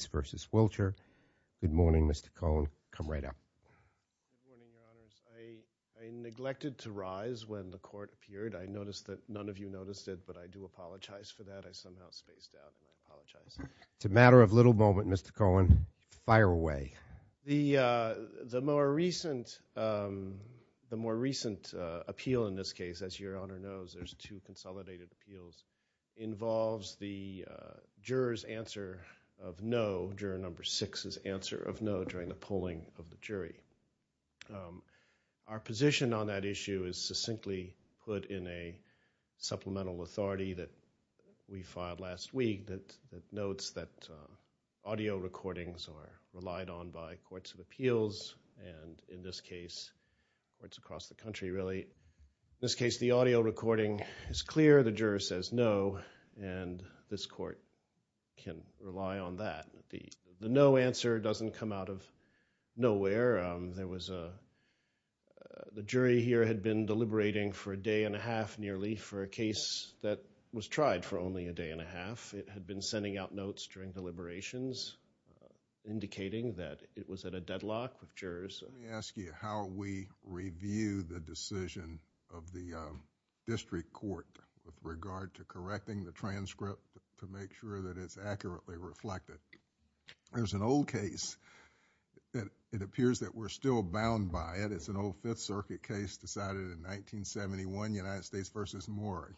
Good morning, Mr. Cohen. Come right up. I neglected to rise when the court appeared. I noticed that none of you noticed it, but I do apologize for that. I somehow spaced out. I apologize. It's a matter of little moment, Mr. Cohen. Fire away. The more recent appeal in this case, as your Honor knows, there's two consolidated appeals, involves the juror's answer of no, juror number six's answer of no during the polling of the jury. Our position on that issue is succinctly put in a supplemental authority that we filed last week that notes that audio recordings are relied on by courts of appeals, and in this case, courts across the country really. In this case, the audio recording is clear, the juror says no, and this court can rely on that. The no answer doesn't come out of nowhere. The jury here had been deliberating for a day and a half nearly for a case that was tried for only a day and a half. It had been sending out notes during deliberations indicating that it was at a deadlock with jurors. Let me ask you how we review the decision of the district court with regard to correcting the transcript to make sure that it's accurately reflected. There's an old case that it appears that we're still bound by it. It's an old Fifth Circuit case decided in 1971, United States v. Moore.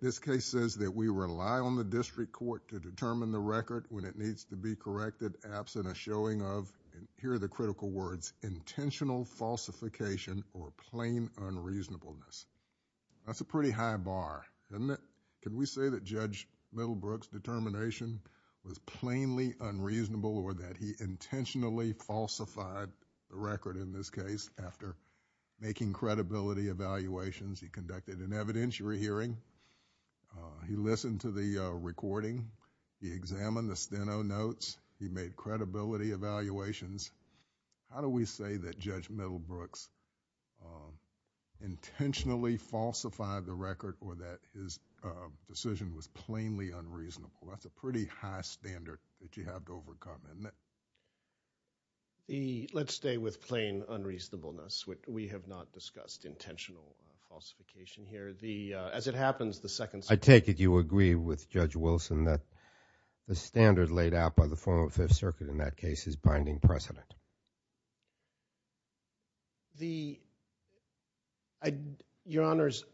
This case says that we rely on the district court to determine the record when it needs to be corrected absent a showing of, and here are the critical words, intentional falsification or plain unreasonableness. That's a pretty high bar, isn't it? Can we say that Judge Middlebrook's determination was plainly unreasonable or that he intentionally falsified the record in this case after making credibility evaluations? He conducted an evidentiary hearing. He listened to the recording. He examined the Steno notes. He made credibility evaluations. How do we say that Judge Middlebrook's intentionally falsified the record or that his decision was plainly unreasonable? That's a pretty high standard that you have to overcome, isn't it? Let's stay with plain unreasonableness. We have not discussed intentional falsification here. As it happens, the second standard – I take it you agree with Judge Wilson that the standard laid out by the former Fifth Circuit in that case is binding precedent. Your Honors,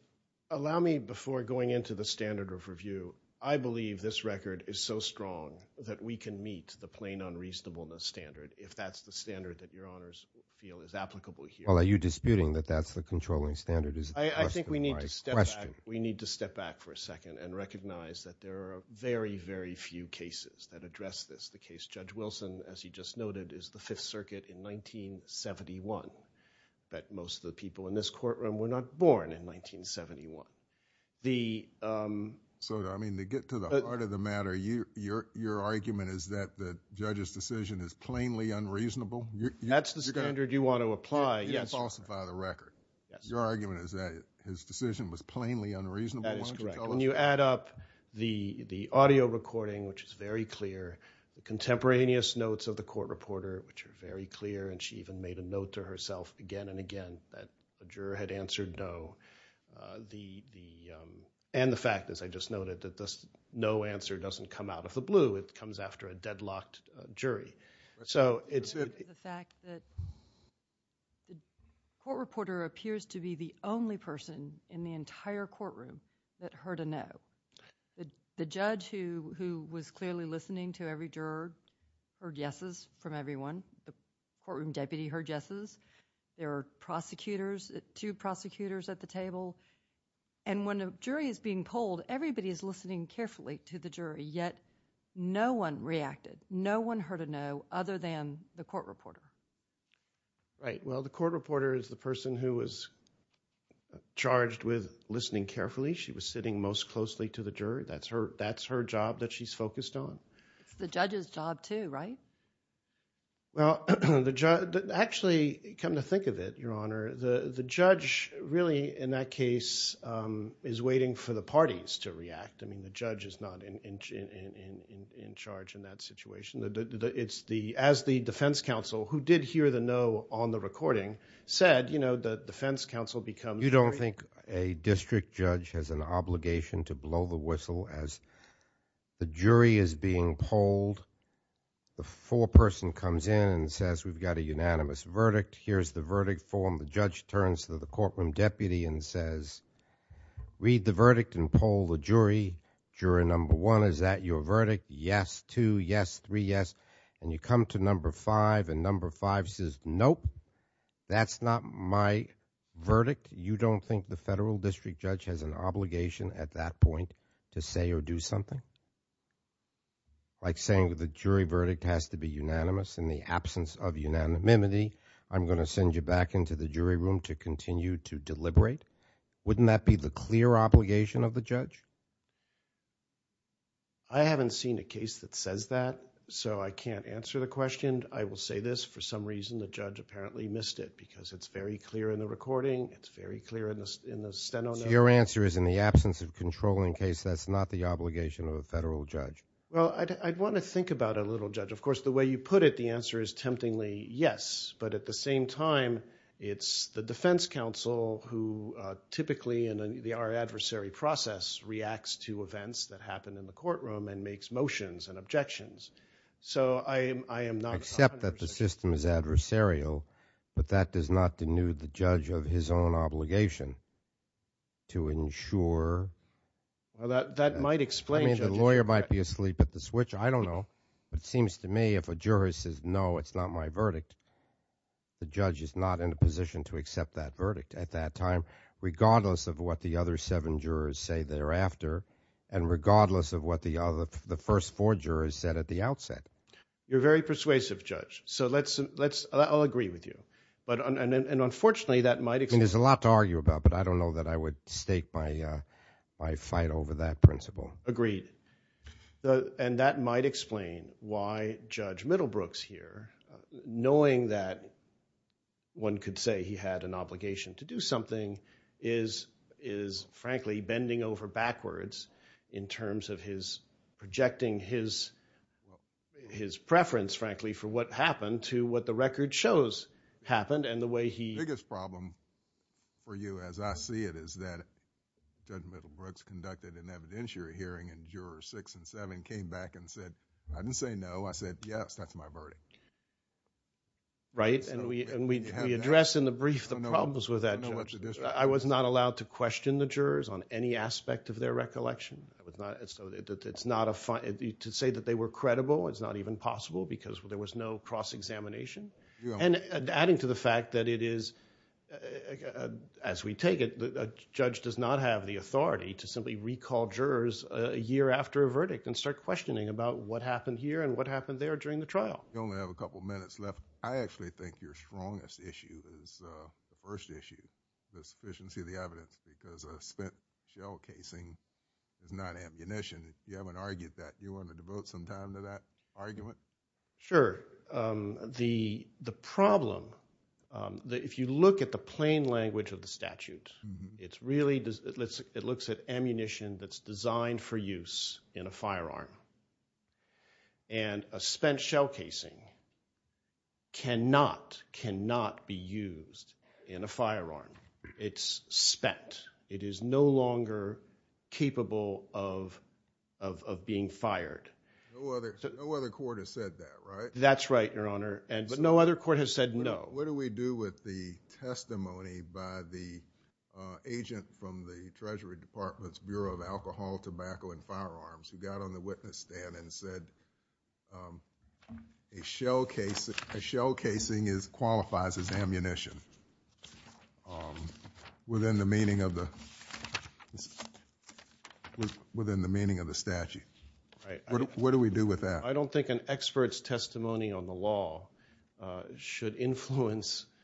allow me before going into the standard of review. I believe this record is so strong that we can meet the plain unreasonableness standard if that's the standard that Your Honors feel is applicable here. Well, are you disputing that that's the controlling standard? I think we need to step back for a second and recognize that there are very, very few cases that address this. The case Judge Wilson, as he just noted, is the Fifth Circuit in 1971. I bet most of the people in this courtroom were not born in 1971. Sotomayor, to get to the heart of the matter, your argument is that the judge's decision is plainly unreasonable? That's the standard you want to apply. You didn't falsify the record. Your argument is that his decision was plainly unreasonable? That is correct. When you add up the audio recording, which is very clear, the contemporaneous notes of the court reporter, which are very clear, and she even made a note to herself again and again that the juror had answered no, and the fact, as I just noted, that the no answer doesn't come out of the blue. It comes after a deadlocked jury. The fact that the court reporter appears to be the only person in the entire courtroom that heard a no. The judge, who was clearly listening to every juror, heard yeses from everyone. The courtroom deputy heard yeses. There were two prosecutors at the table, and when a jury is being polled, everybody is listening carefully to the jury, yet no one reacted. No one heard a no other than the court reporter. Right. Well, the court reporter is the person who was charged with listening carefully. She was sitting most closely to the jury. That's her job that she's focused on. It's the judge's job, too, right? Well, actually, come to think of it, Your Honor, the judge really, in that case, is waiting for the parties to react. I mean, the judge is not in charge in that situation. It's the – as the defense counsel, who did hear the no on the recording, said, you know, the defense counsel becomes – You don't think a district judge has an obligation to blow the whistle as the jury is being polled? The foreperson comes in and says, we've got a unanimous verdict. Here's the verdict form. The judge turns to the courtroom deputy and says, read the verdict and poll the jury. Jury number one, is that your verdict? Yes, two, yes, three, yes. And you come to number five, and number five says, nope, that's not my verdict. You don't think the federal district judge has an obligation at that point to say or do something? Like saying the jury verdict has to be unanimous. In the absence of unanimity, I'm going to send you back into the jury room to continue to deliberate. Wouldn't that be the clear obligation of the judge? I haven't seen a case that says that, so I can't answer the question. I will say this. For some reason, the judge apparently missed it because it's very clear in the recording. It's very clear in the Steno notes. Your answer is in the absence of controlling case, that's not the obligation of a federal judge. Well, I'd want to think about it a little, Judge. Of course, the way you put it, the answer is temptingly yes. But at the same time, it's the defense counsel who typically in our adversary process reacts to events that happen in the courtroom and makes motions and objections. So I am not confident. I accept that the system is adversarial, but that does not denude the judge of his own obligation. Well, that might explain, Judge. I mean, the lawyer might be asleep at the switch. I don't know. It seems to me if a juror says, no, it's not my verdict, the judge is not in a position to accept that verdict at that time regardless of what the other seven jurors say thereafter and regardless of what the first four jurors said at the outset. You're very persuasive, Judge. So I'll agree with you. And unfortunately, that might explain. I mean, there's a lot to argue about, but I don't know that I would stake my fight over that principle. Agreed. And that might explain why Judge Middlebrooks here, knowing that one could say he had an obligation to do something, is frankly bending over backwards in terms of his projecting his preference, frankly, for what happened to what the record shows happened and the way he— came back and said, I didn't say no. I said, yes, that's my verdict. Right. And we address in the brief the problems with that, Judge. I was not allowed to question the jurors on any aspect of their recollection. To say that they were credible is not even possible because there was no cross-examination. And adding to the fact that it is, as we take it, a judge does not have the authority to simply recall jurors a year after a verdict and start questioning about what happened here and what happened there during the trial. We only have a couple minutes left. I actually think your strongest issue is the first issue, the sufficiency of the evidence, because spent shell casing is not ammunition. If you haven't argued that, do you want to devote some time to that argument? Sure. The problem, if you look at the plain language of the statute, it's really – it looks at ammunition that's designed for use in a firearm. And a spent shell casing cannot, cannot be used in a firearm. It's spent. It is no longer capable of being fired. No other court has said that, right? That's right, Your Honor. But no other court has said no. What do we do with the testimony by the agent from the Treasury Department's Bureau of Alcohol, Tobacco, and Firearms who got on the witness stand and said a shell casing qualifies as ammunition within the meaning of the statute? What do we do with that? I don't think an expert's testimony on the law should influence –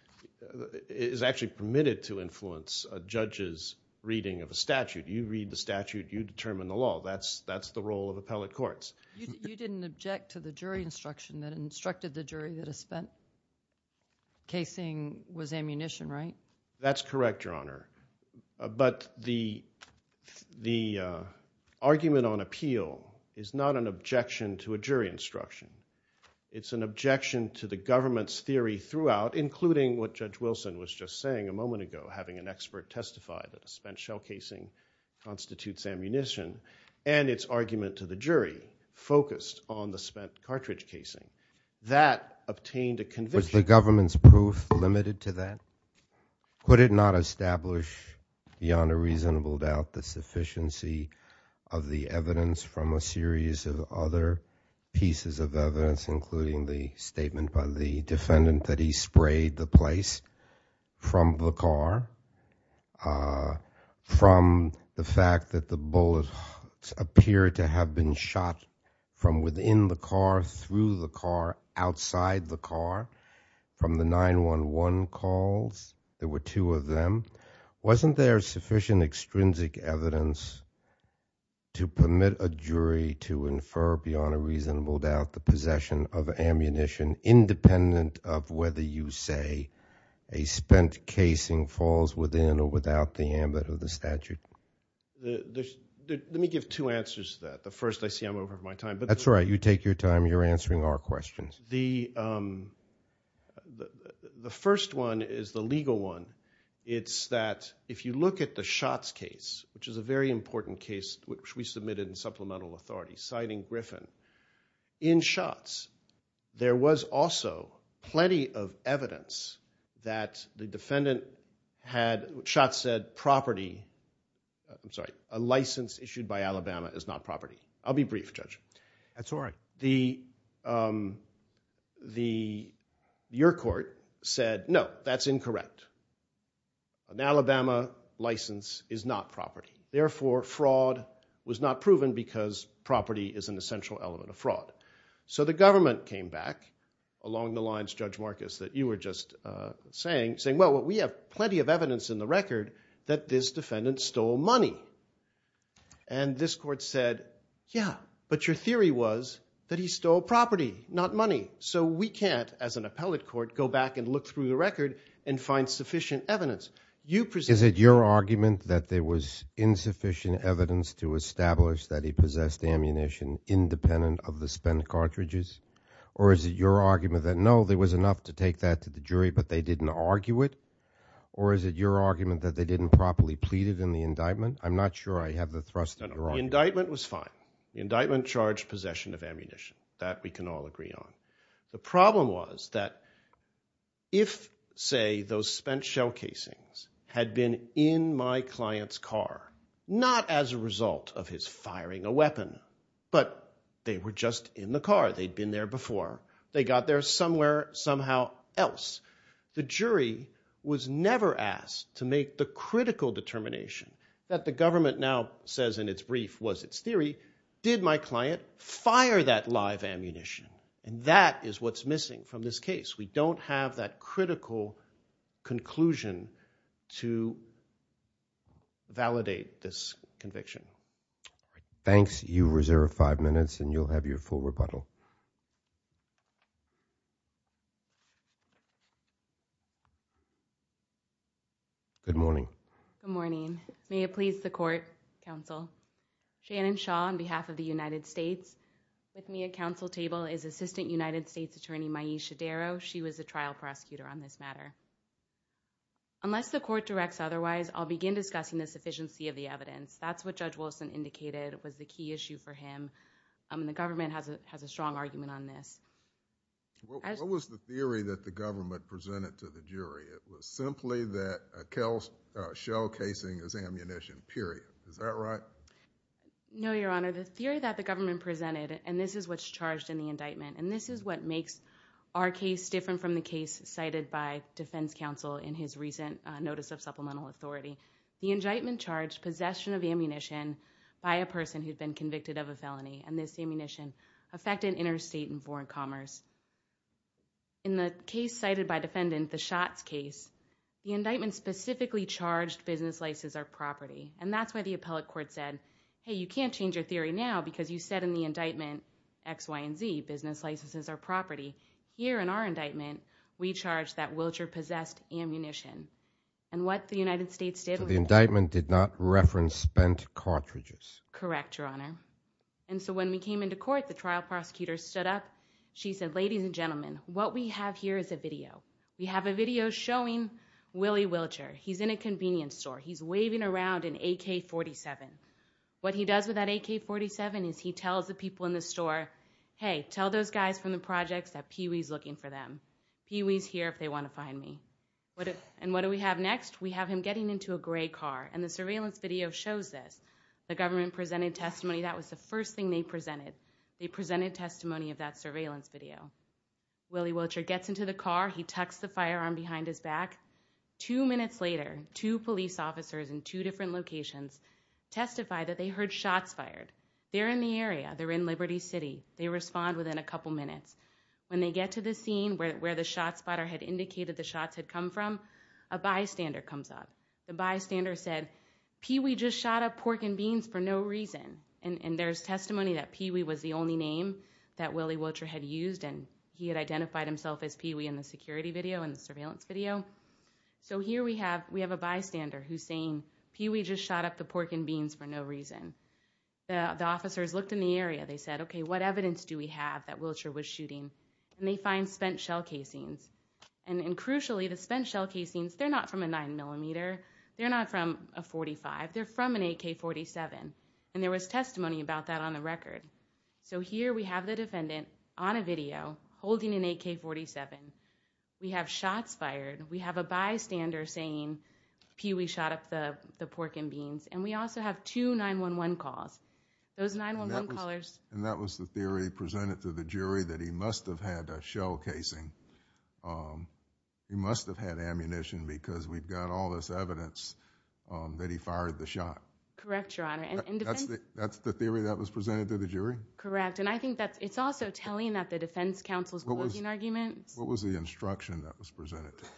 is actually permitted to influence a judge's reading of a statute. You read the statute. You determine the law. That's the role of appellate courts. You didn't object to the jury instruction that instructed the jury that a spent casing was ammunition, right? That's correct, Your Honor. But the argument on appeal is not an objection to a jury instruction. It's an objection to the government's theory throughout, including what Judge Wilson was just saying a moment ago, having an expert testify that a spent shell casing constitutes ammunition, and its argument to the jury focused on the spent cartridge casing. That obtained a conviction. Was the government's proof limited to that? Could it not establish beyond a reasonable doubt the sufficiency of the evidence from a series of other pieces of evidence, including the statement by the defendant that he sprayed the place from the car, from the fact that the bullets appear to have been shot from within the car, through the car, outside the car, from the 911 calls? There were two of them. Wasn't there sufficient extrinsic evidence to permit a jury to infer beyond a reasonable doubt the possession of ammunition independent of whether you say a spent casing falls within or without the ambit of the statute? Let me give two answers to that. The first, I see I'm over my time. That's all right. You take your time. You're answering our questions. The first one is the legal one. It's that if you look at the Schatz case, which is a very important case, which we submitted in supplemental authority, citing Griffin, in Schatz, there was also plenty of evidence that the defendant had, Schatz said, property, I'm sorry, a license issued by Alabama is not property. I'll be brief, Judge. That's all right. Your court said, no, that's incorrect. An Alabama license is not property. Therefore, fraud was not proven because property is an essential element of fraud. So the government came back along the lines, Judge Marcus, that you were just saying, saying, well, we have plenty of evidence in the record that this defendant stole money. And this court said, yeah, but your theory was that he stole property, not money. So we can't, as an appellate court, go back and look through the record and find sufficient evidence. You presented— Is it your argument that there was insufficient evidence to establish that he possessed ammunition independent of the spent cartridges? Or is it your argument that, no, there was enough to take that to the jury, but they didn't argue it? Or is it your argument that they didn't properly plead it in the indictment? I'm not sure I have the thrust of your argument. The indictment was fine. The indictment charged possession of ammunition. That we can all agree on. The problem was that if, say, those spent shell casings had been in my client's car, not as a result of his firing a weapon, but they were just in the car. They'd been there before. They got there somewhere, somehow else. The jury was never asked to make the critical determination that the government now says in its brief was its theory. Did my client fire that live ammunition? And that is what's missing from this case. We don't have that critical conclusion to validate this conviction. Thanks. You reserve five minutes and you'll have your full rebuttal. Good morning. Good morning. May it please the court, counsel. Shannon Shaw on behalf of the United States. With me at counsel table is Assistant United States Attorney Maisha Darrow. She was the trial prosecutor on this matter. Unless the court directs otherwise, I'll begin discussing the sufficiency of the evidence. That's what Judge Wilson indicated was the key issue for him. The government has a strong argument on this. What was the theory that the government presented to the jury? It was simply that a shell casing is ammunition, period. Is that right? No, Your Honor. The theory that the government presented, and this is what's charged in the indictment, and this is what makes our case different from the case cited by defense counsel in his recent notice of supplemental authority. The indictment charged possession of ammunition by a person who'd been convicted of a felony, and this ammunition affected interstate and foreign commerce. In the case cited by defendant, the Schatz case, the indictment specifically charged business licenses or property. And that's why the appellate court said, hey, you can't change your theory now because you said in the indictment, X, Y, and Z, business licenses or property. Here in our indictment, we charge that Wilcher possessed ammunition. And what the United States did was- The indictment did not reference spent cartridges. Correct, Your Honor. And so when we came into court, the trial prosecutor stood up. She said, ladies and gentlemen, what we have here is a video. We have a video showing Willie Wilcher. He's in a convenience store. He's waving around an AK-47. What he does with that AK-47 is he tells the people in the store, hey, tell those guys from the projects that Pee Wee's looking for them. Pee Wee's here if they want to find me. And what do we have next? We have him getting into a gray car, and the surveillance video shows this. The government presented testimony. That was the first thing they presented. They presented testimony of that surveillance video. Willie Wilcher gets into the car. He tucks the firearm behind his back. Two minutes later, two police officers in two different locations testify that they heard shots fired. They're in the area. They're in Liberty City. They respond within a couple minutes. When they get to the scene where the shot spotter had indicated the shots had come from, a bystander comes up. The bystander said, Pee Wee just shot up pork and beans for no reason. And there's testimony that Pee Wee was the only name that Willie Wilcher had used, and he had identified himself as Pee Wee in the security video and the surveillance video. So here we have a bystander who's saying, Pee Wee just shot up the pork and beans for no reason. The officers looked in the area. They said, okay, what evidence do we have that Wilcher was shooting? And they find spent shell casings. And crucially, the spent shell casings, they're not from a 9mm. They're not from a .45. They're from an AK-47. And there was testimony about that on the record. So here we have the defendant on a video holding an AK-47. We have shots fired. We have a bystander saying, Pee Wee shot up the pork and beans. And we also have two 911 calls. Those 911 callers. And that was the theory presented to the jury that he must have had a shell casing. He must have had ammunition because we've got all this evidence that he fired the shot. Correct, Your Honor. That's the theory that was presented to the jury? Correct. And I think it's also telling that the defense counsel is making arguments. What was the instruction that was presented to you?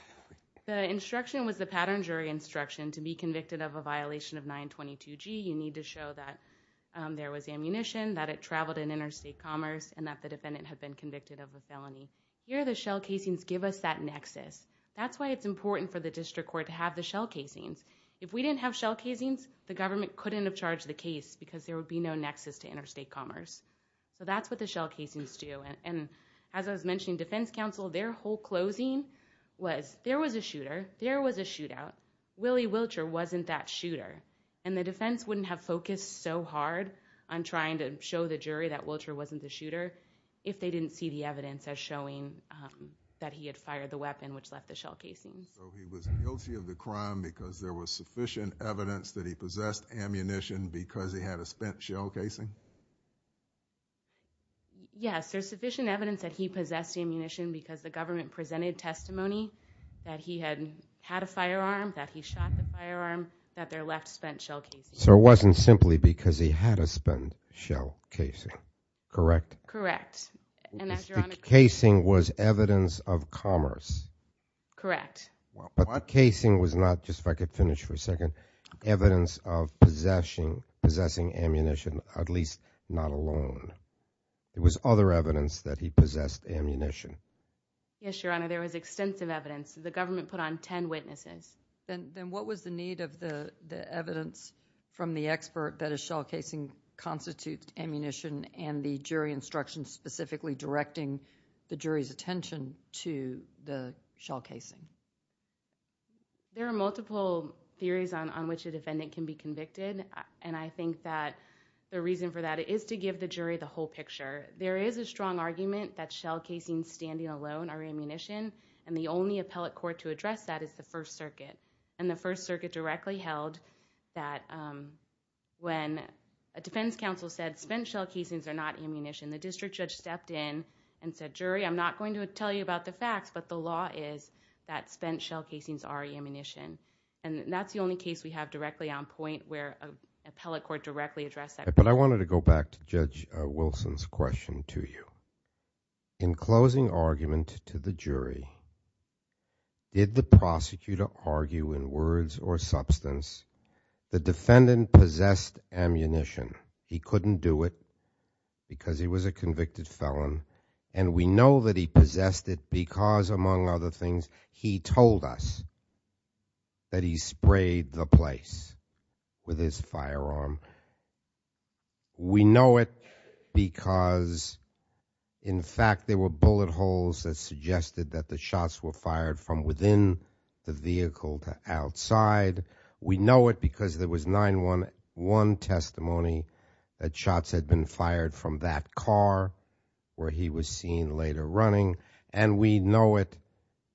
The instruction was the pattern jury instruction. To be convicted of a violation of 922G, you need to show that there was ammunition, that it traveled in interstate commerce, and that the defendant had been convicted of a felony. Here the shell casings give us that nexus. That's why it's important for the district court to have the shell casings. If we didn't have shell casings, the government couldn't have charged the case because there would be no nexus to interstate commerce. So that's what the shell casings do. And as I was mentioning, defense counsel, their whole closing was there was a shooter. There was a shootout. Willie Wilcher wasn't that shooter. And the defense wouldn't have focused so hard on trying to show the jury that Wilcher wasn't the shooter if they didn't see the evidence as showing that he had fired the weapon which left the shell casing. So he was guilty of the crime because there was sufficient evidence that he possessed ammunition because he had a spent shell casing? Yes, there's sufficient evidence that he possessed ammunition because the government presented testimony that he had had a firearm, that he shot the firearm, that their left spent shell casing. So it wasn't simply because he had a spent shell casing, correct? Correct. The casing was evidence of commerce. Correct. But the casing was not, just if I could finish for a second, evidence of possessing ammunition, at least not alone. It was other evidence that he possessed ammunition. Yes, Your Honor, there was extensive evidence. The government put on ten witnesses. Then what was the need of the evidence from the expert that a shell casing constitutes ammunition and the jury instructions specifically directing the jury's attention to the shell casing? There are multiple theories on which a defendant can be convicted, and I think that the reason for that is to give the jury the whole picture. There is a strong argument that shell casings standing alone are ammunition, and the only appellate court to address that is the First Circuit. The First Circuit directly held that when a defense counsel said spent shell casings are not ammunition, the district judge stepped in and said, jury, I'm not going to tell you about the facts, but the law is that spent shell casings are ammunition. That's the only case we have directly on point where an appellate court directly addressed that. But I wanted to go back to Judge Wilson's question to you. In closing argument to the jury, did the prosecutor argue in words or substance the defendant possessed ammunition? He couldn't do it because he was a convicted felon, and we know that he possessed it because, among other things, he told us that he sprayed the place with his firearm. We know it because, in fact, there were bullet holes that suggested that the shots were fired from within the vehicle to outside. We know it because there was 9-1-1 testimony that shots had been fired from that car where he was seen later running, and we know it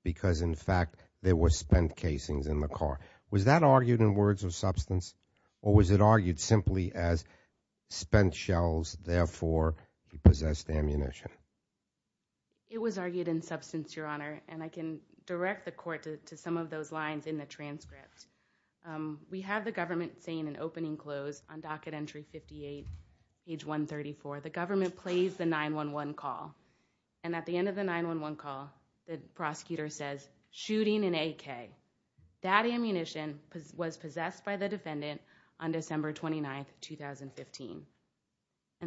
because, in fact, there were spent casings in the car. Was that argued in words or substance, or was it argued simply as spent shells, therefore he possessed ammunition? It was argued in substance, Your Honor, and I can direct the court to some of those lines in the transcript. We have the government saying in opening close on docket entry 58, page 134, the government plays the 9-1-1 call, and at the end of the 9-1-1 call, the prosecutor says, That ammunition was possessed by the defendant on December 29th, 2015.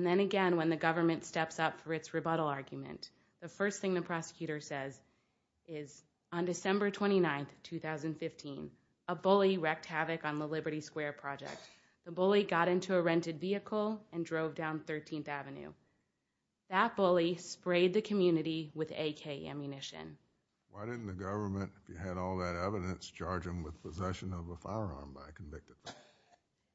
Then again, when the government steps up for its rebuttal argument, the first thing the prosecutor says is, On December 29th, 2015, a bully wrecked havoc on the Liberty Square project. The bully got into a rented vehicle and drove down 13th Avenue. That bully sprayed the community with AK ammunition. Why didn't the government, if you had all that evidence, charge him with possession of a firearm by a convicted felon?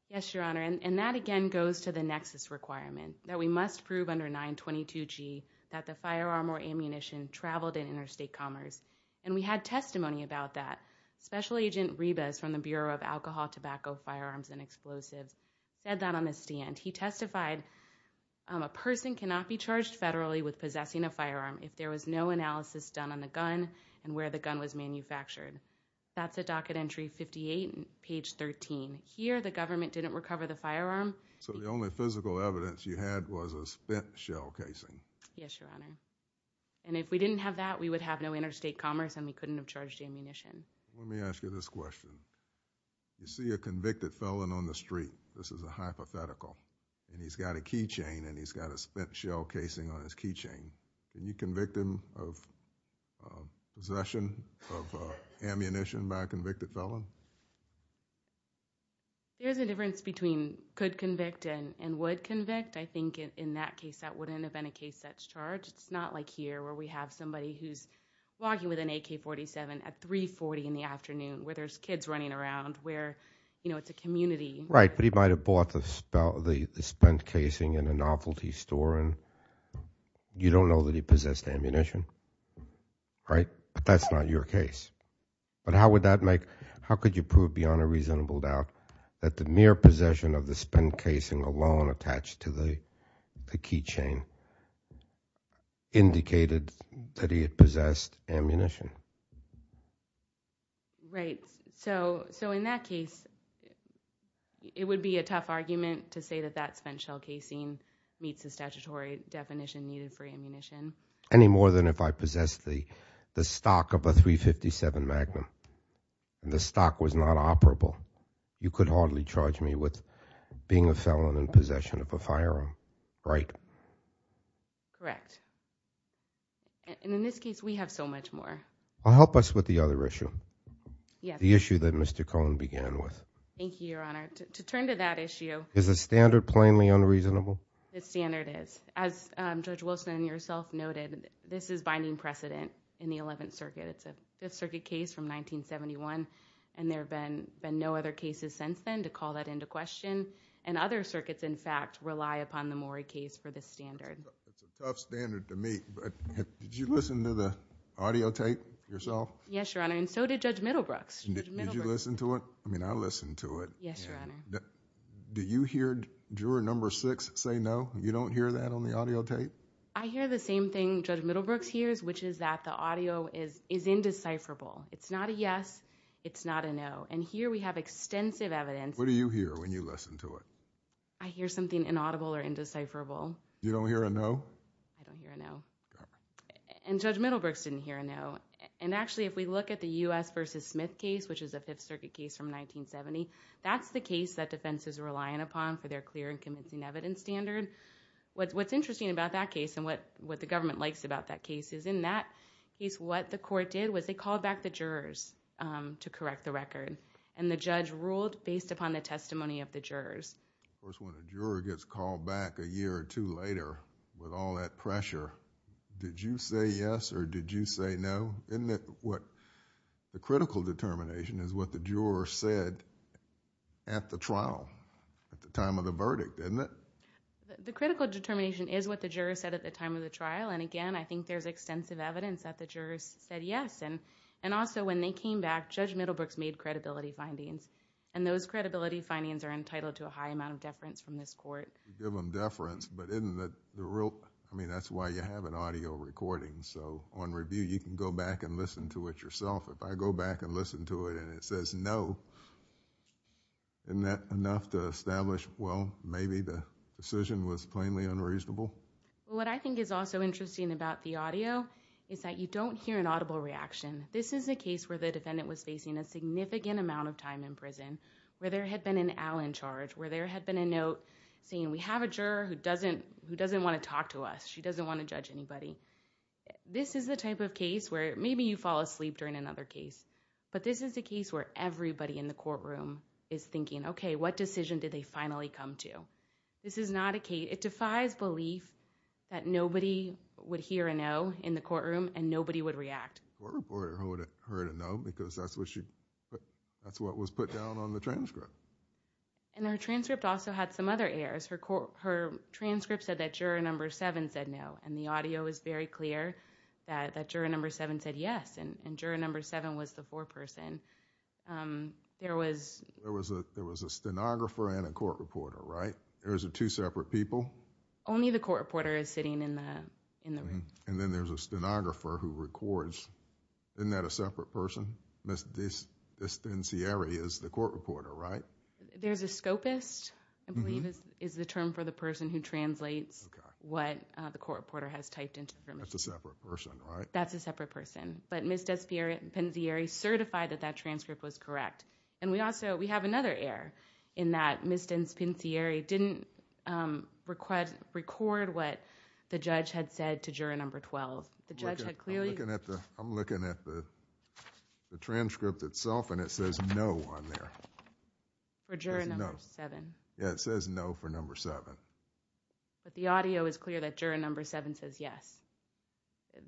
Yes, Your Honor, and that again goes to the nexus requirement that we must prove under 922G that the firearm or ammunition traveled in interstate commerce, and we had testimony about that. Special Agent Ribas from the Bureau of Alcohol, Tobacco, Firearms, and Explosives said that on the stand. He testified, A person cannot be charged federally with possessing a firearm if there was no analysis done on the gun and where the gun was manufactured. That's at docket entry 58, page 13. Here, the government didn't recover the firearm. So the only physical evidence you had was a spent shell casing. Yes, Your Honor, and if we didn't have that, we would have no interstate commerce, and we couldn't have charged ammunition. Let me ask you this question. You see a convicted felon on the street. This is a hypothetical, and he's got a keychain, and he's got a spent shell casing on his keychain. Can you convict him of possession of ammunition by a convicted felon? There's a difference between could convict and would convict. I think in that case, that wouldn't have been a case that's charged. It's not like here where we have somebody who's walking with an AK-47 at 340 in the afternoon where there's kids running around where, you know, it's a community. Right, but he might have bought the spent casing in a novelty store, and you don't know that he possessed ammunition, right? But that's not your case. But how would that make—how could you prove beyond a reasonable doubt that the mere possession of the spent casing alone attached to the keychain indicated that he had possessed ammunition? Right, so in that case, it would be a tough argument to say that that spent shell casing meets the statutory definition needed for ammunition. Any more than if I possessed the stock of a .357 Magnum, and the stock was not operable. You could hardly charge me with being a felon in possession of a firearm, right? Correct. And in this case, we have so much more. Help us with the other issue, the issue that Mr. Cohen began with. Thank you, Your Honor. To turn to that issue— Is the standard plainly unreasonable? The standard is. As Judge Wilson and yourself noted, this is binding precedent in the Eleventh Circuit. It's a Fifth Circuit case from 1971, and there have been no other cases since then to call that into question. And other circuits, in fact, rely upon the Morey case for this standard. It's a tough standard to meet, but did you listen to the audio tape yourself? Yes, Your Honor, and so did Judge Middlebrooks. Did you listen to it? I mean, I listened to it. Yes, Your Honor. Do you hear juror number six say no? You don't hear that on the audio tape? I hear the same thing Judge Middlebrooks hears, which is that the audio is indecipherable. It's not a yes, it's not a no. And here we have extensive evidence— What do you hear when you listen to it? I hear something inaudible or indecipherable. You don't hear a no? I don't hear a no. And Judge Middlebrooks didn't hear a no. And actually, if we look at the U.S. v. Smith case, which is a Fifth Circuit case from 1970, that's the case that defense is relying upon for their clear and convincing evidence standard. What's interesting about that case, and what the government likes about that case, is in that case, what the court did was they called back the jurors to correct the record. And the judge ruled based upon the testimony of the jurors. Of course, when a juror gets called back a year or two later with all that pressure, did you say yes or did you say no? The critical determination is what the jurors said at the trial, at the time of the verdict, isn't it? The critical determination is what the jurors said at the time of the trial. And again, I think there's extensive evidence that the jurors said yes. And also, when they came back, Judge Middlebrooks made credibility findings. And those credibility findings are entitled to a high amount of deference from this court. You give them deference, but isn't that the real— I mean, that's why you have an audio recording. So, on review, you can go back and listen to it yourself. If I go back and listen to it and it says no, isn't that enough to establish, well, maybe the decision was plainly unreasonable? What I think is also interesting about the audio is that you don't hear an audible reaction. This is a case where the defendant was facing a significant amount of time in prison, where there had been an al in charge, where there had been a note saying, we have a juror who doesn't want to talk to us. She doesn't want to judge anybody. This is the type of case where maybe you fall asleep during another case. But this is a case where everybody in the courtroom is thinking, okay, what decision did they finally come to? This is not a case—it defies belief that nobody would hear a no in the courtroom and nobody would react. The court reported her to no because that's what she— that's what was put down on the transcript. And her transcript also had some other errors. Her transcript said that juror number seven said no, and the audio is very clear that juror number seven said yes, and juror number seven was the foreperson. There was— There was a stenographer and a court reporter, right? There was two separate people? Only the court reporter is sitting in the room. And then there's a stenographer who records. Isn't that a separate person? Ms. Despensieri is the court reporter, right? There's a scopist, I believe, is the term for the person who translates what the court reporter has typed into the permission. That's a separate person, right? That's a separate person. But Ms. Despensieri certified that that transcript was correct. And we also—we have another error in that Ms. Despensieri didn't record what the judge had said to juror number 12. The judge had clearly— I'm looking at the transcript itself, and it says no on there. For juror number seven. Yeah, it says no for number seven. But the audio is clear that juror number seven says yes.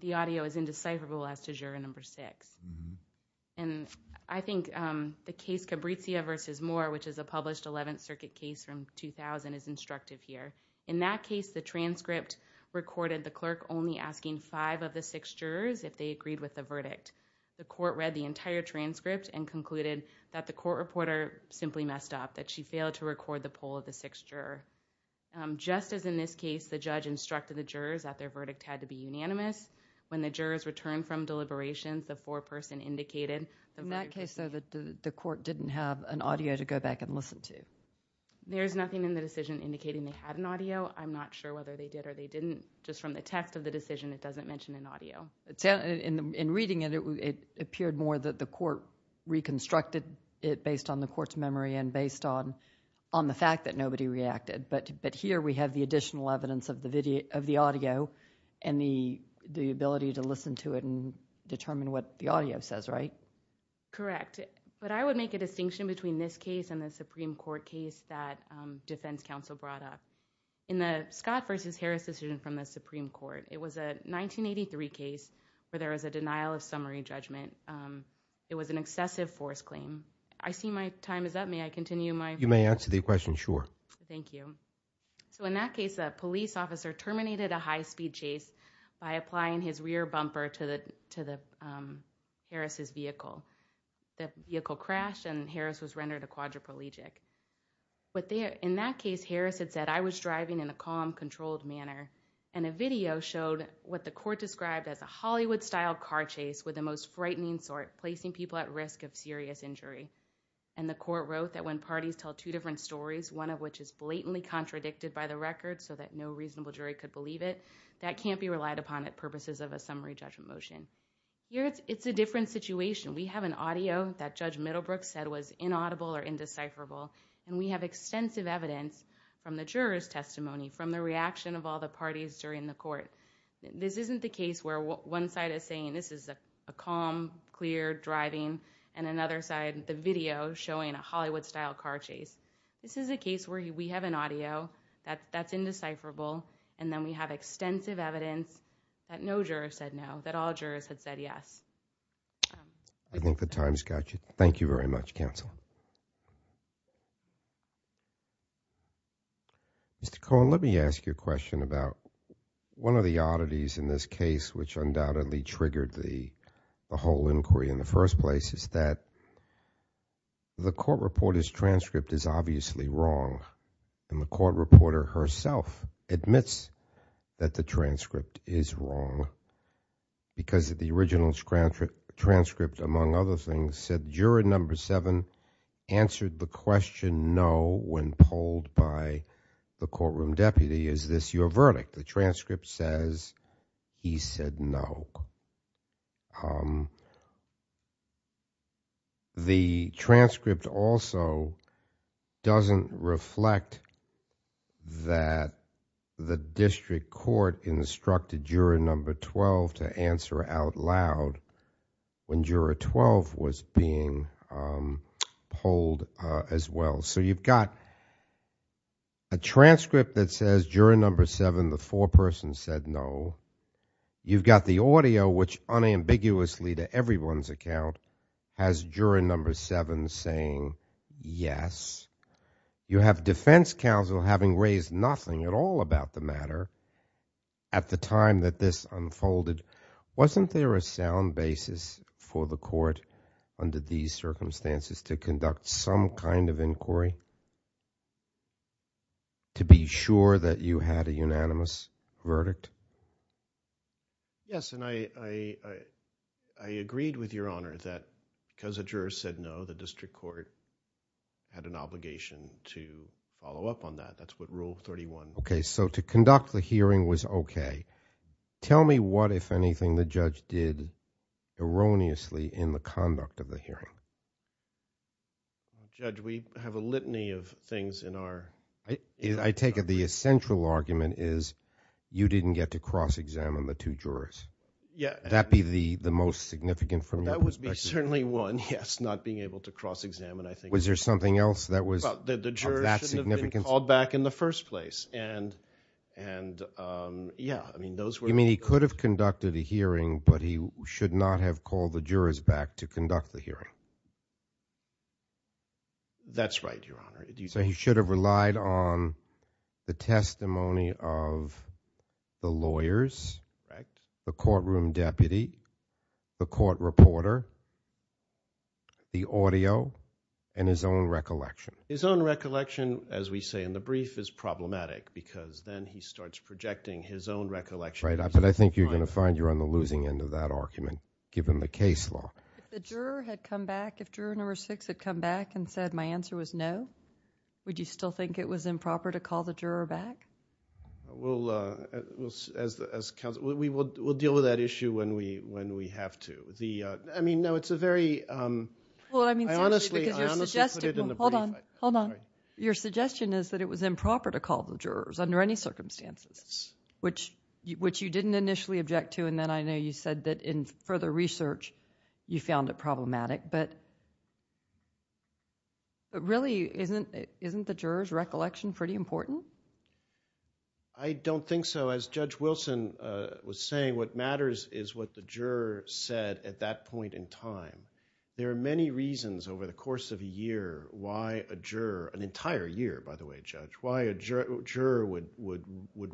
The audio is indecipherable as to juror number six. And I think the case Cabritia v. Moore, which is a published 11th Circuit case from 2000, is instructive here. In that case, the transcript recorded the clerk only asking five of the six jurors if they agreed with the verdict. The court read the entire transcript and concluded that the court reporter simply messed up, that she failed to record the poll of the sixth juror. Just as in this case, the judge instructed the jurors that their verdict had to be unanimous, when the jurors returned from deliberations, the foreperson indicated— In that case, though, the court didn't have an audio to go back and listen to. There's nothing in the decision indicating they had an audio. I'm not sure whether they did or they didn't. Just from the text of the decision, it doesn't mention an audio. In reading it, it appeared more that the court reconstructed it based on the court's memory and based on the fact that nobody reacted. But here we have the additional evidence of the audio and the ability to listen to it and determine what the audio says, right? Correct. But I would make a distinction between this case and the Supreme Court case that defense counsel brought up. In the Scott v. Harris decision from the Supreme Court, it was a 1983 case where there was a denial of summary judgment. It was an excessive force claim. I see my time is up. May I continue my— You may answer the question, sure. Thank you. In that case, a police officer terminated a high-speed chase by applying his rear bumper to Harris' vehicle. The vehicle crashed, and Harris was rendered a quadriplegic. In that case, Harris had said, I was driving in a calm, controlled manner. And a video showed what the court described as a Hollywood-style car chase with the most frightening sort, placing people at risk of serious injury. And the court wrote that when parties tell two different stories, one of which is blatantly contradicted by the record so that no reasonable jury could believe it, that can't be relied upon at purposes of a summary judgment motion. Here, it's a different situation. We have an audio that Judge Middlebrook said was inaudible or indecipherable, and we have extensive evidence from the juror's testimony, from the reaction of all the parties during the court. This isn't the case where one side is saying this is a calm, clear driving, and another side, the video showing a Hollywood-style car chase. This is a case where we have an audio that's indecipherable, and then we have extensive evidence that no juror said no, that all jurors had said yes. I think the time's got you. Thank you very much, counsel. Mr. Cohen, let me ask you a question about one of the oddities in this case which undoubtedly triggered the whole inquiry in the first place is that the court reporter's transcript is obviously wrong, and the court reporter herself admits that the transcript is wrong because the original transcript, among other things, said juror number seven answered the question no when polled by the courtroom deputy. Is this your verdict? The transcript says he said no. The transcript also doesn't reflect that the district court instructed juror number 12 to answer out loud when juror 12 was being polled as well. So you've got a transcript that says juror number seven, the foreperson, said no. You've got the audio, which unambiguously to everyone's account, has juror number seven saying yes. You have defense counsel having raised nothing at all about the matter at the time that this unfolded. Wasn't there a sound basis for the court under these circumstances to conduct some kind of inquiry to be sure that you had a unanimous verdict? Yes, and I agreed with Your Honor that because a juror said no, the district court had an obligation to follow up on that. That's what Rule 31 says. Okay, so to conduct the hearing was okay. Tell me what, if anything, the judge did erroneously in the conduct of the hearing. Judge, we have a litany of things in our- I take it the essential argument is you didn't get to cross-examine the two jurors. Would that be the most significant from your perspective? That would be certainly one, yes, not being able to cross-examine, I think. Was there something else that was of that significance? He should have been called back in the first place. You mean he could have conducted a hearing, but he should not have called the jurors back to conduct the hearing? That's right, Your Honor. So he should have relied on the testimony of the lawyers, the courtroom deputy, the court reporter, the audio, and his own recollection? His own recollection, as we say in the brief, is problematic because then he starts projecting his own recollection. Right, but I think you're going to find you're on the losing end of that argument given the case law. If the juror had come back, if juror number six had come back and said my answer was no, would you still think it was improper to call the juror back? We'll deal with that issue when we have to. I mean, no, it's a very- I honestly put it in the brief. Hold on. Your suggestion is that it was improper to call the jurors under any circumstances, which you didn't initially object to, and then I know you said that in further research you found it problematic. But really, isn't the juror's recollection pretty important? I don't think so. As Judge Wilson was saying, what matters is what the juror said at that point in time. There are many reasons over the course of a year why a juror- an entire year, by the way, Judge- why a juror would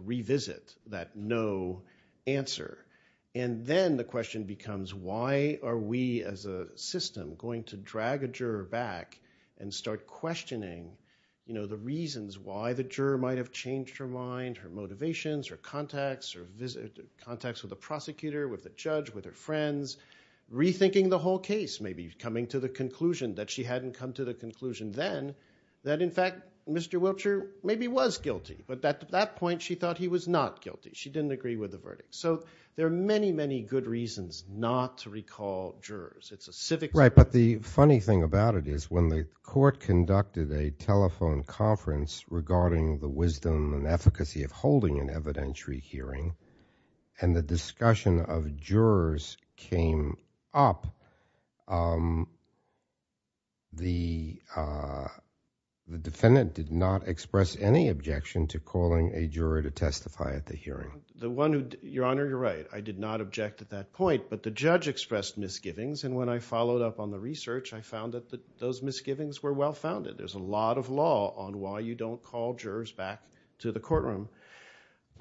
revisit that no answer. And then the question becomes why are we as a system going to drag a juror back and start questioning the reasons why the juror might have changed her mind, her motivations, her contacts, her contacts with the prosecutor, with the judge, with her friends, rethinking the whole case, maybe coming to the conclusion that she hadn't come to the conclusion then that, in fact, Mr. Wiltshire maybe was guilty, but at that point she thought he was not guilty. She didn't agree with the verdict. So there are many, many good reasons not to recall jurors. It's a civic- Right, but the funny thing about it is when the court conducted a telephone conference regarding the wisdom and efficacy of holding an evidentiary hearing and the discussion of jurors came up, the defendant did not express any objection to calling a juror to testify at the hearing. Your Honor, you're right. I did not object at that point, but the judge expressed misgivings, and when I followed up on the research, I found that those misgivings were well-founded. There's a lot of law on why you don't call jurors back to the courtroom.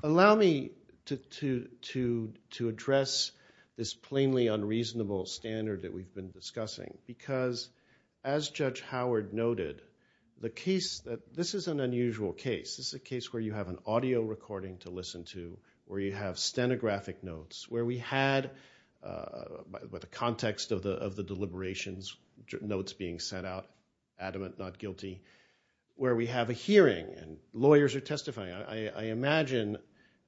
Allow me to address this plainly unreasonable standard that we've been discussing, because, as Judge Howard noted, this is an unusual case. This is a case where you have an audio recording to listen to, where you have stenographic notes, where we had the context of the deliberations, notes being sent out, adamant, not guilty, where we have a hearing and lawyers are testifying. I imagine,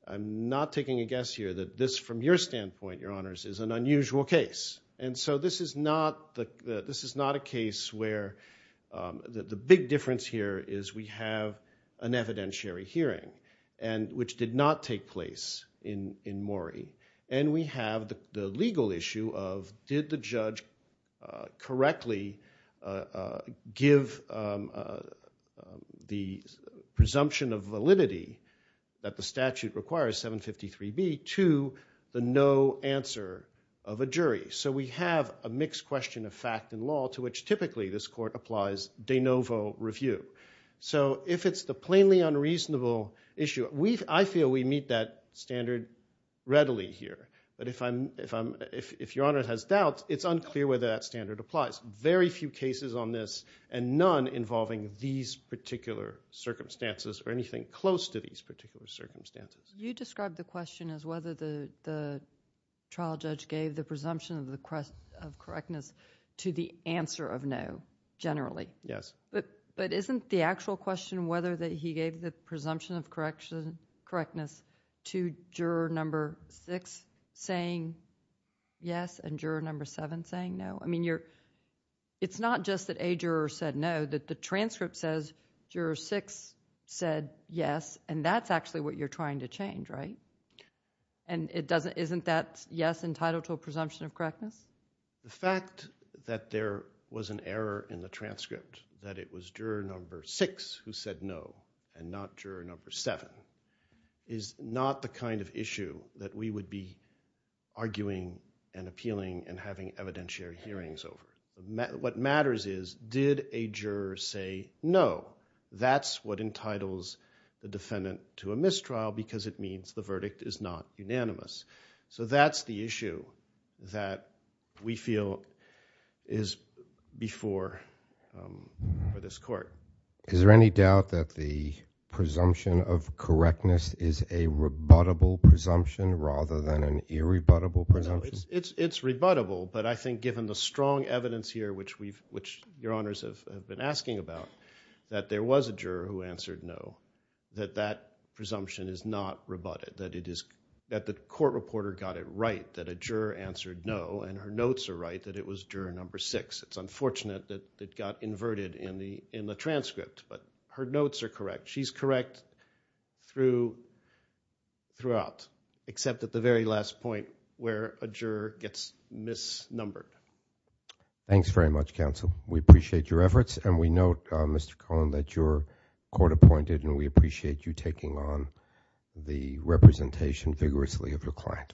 I'm not taking a guess here, that this, from your standpoint, Your Honors, is an unusual case, and so this is not a case where the big difference here is we have an evidentiary hearing, which did not take place in Maury, and we have the legal issue of did the judge correctly give the presumption of validity that the statute requires, 753B, to the no answer of a jury. So we have a mixed question of fact and law to which, typically, this court applies de novo review. So if it's the plainly unreasonable issue, I feel we meet that standard readily here. But if Your Honor has doubt, it's unclear whether that standard applies. Very few cases on this, and none involving these particular circumstances or anything close to these particular circumstances. You described the question as whether the trial judge gave the presumption of correctness to the answer of no, generally. Yes. But isn't the actual question whether he gave the presumption of correctness to juror number six saying yes and juror number seven saying no? I mean, it's not just that a juror said no, that the transcript says juror six said yes, and that's actually what you're trying to change, right? And isn't that yes entitled to a presumption of correctness? The fact that there was an error in the transcript, that it was juror number six who said no and not juror number seven, is not the kind of issue that we would be arguing and appealing and having evidentiary hearings over. What matters is did a juror say no? That's what entitles the defendant to a mistrial because it means the verdict is not unanimous. So that's the issue that we feel is before this court. Is there any doubt that the presumption of correctness is a rebuttable presumption rather than an irrebuttable presumption? It's rebuttable, but I think given the strong evidence here, which Your Honors have been asking about, that there was a juror who answered no, that that presumption is not rebutted, that the court reporter got it right, that a juror answered no and her notes are right that it was juror number six. It's unfortunate that it got inverted in the transcript, but her notes are correct. She's correct throughout, except at the very last point where a juror gets misnumbered. Thanks very much, counsel. We appreciate your efforts, and we note, Mr. Cohen, that you're court appointed, and we appreciate you taking on the representation vigorously of your client.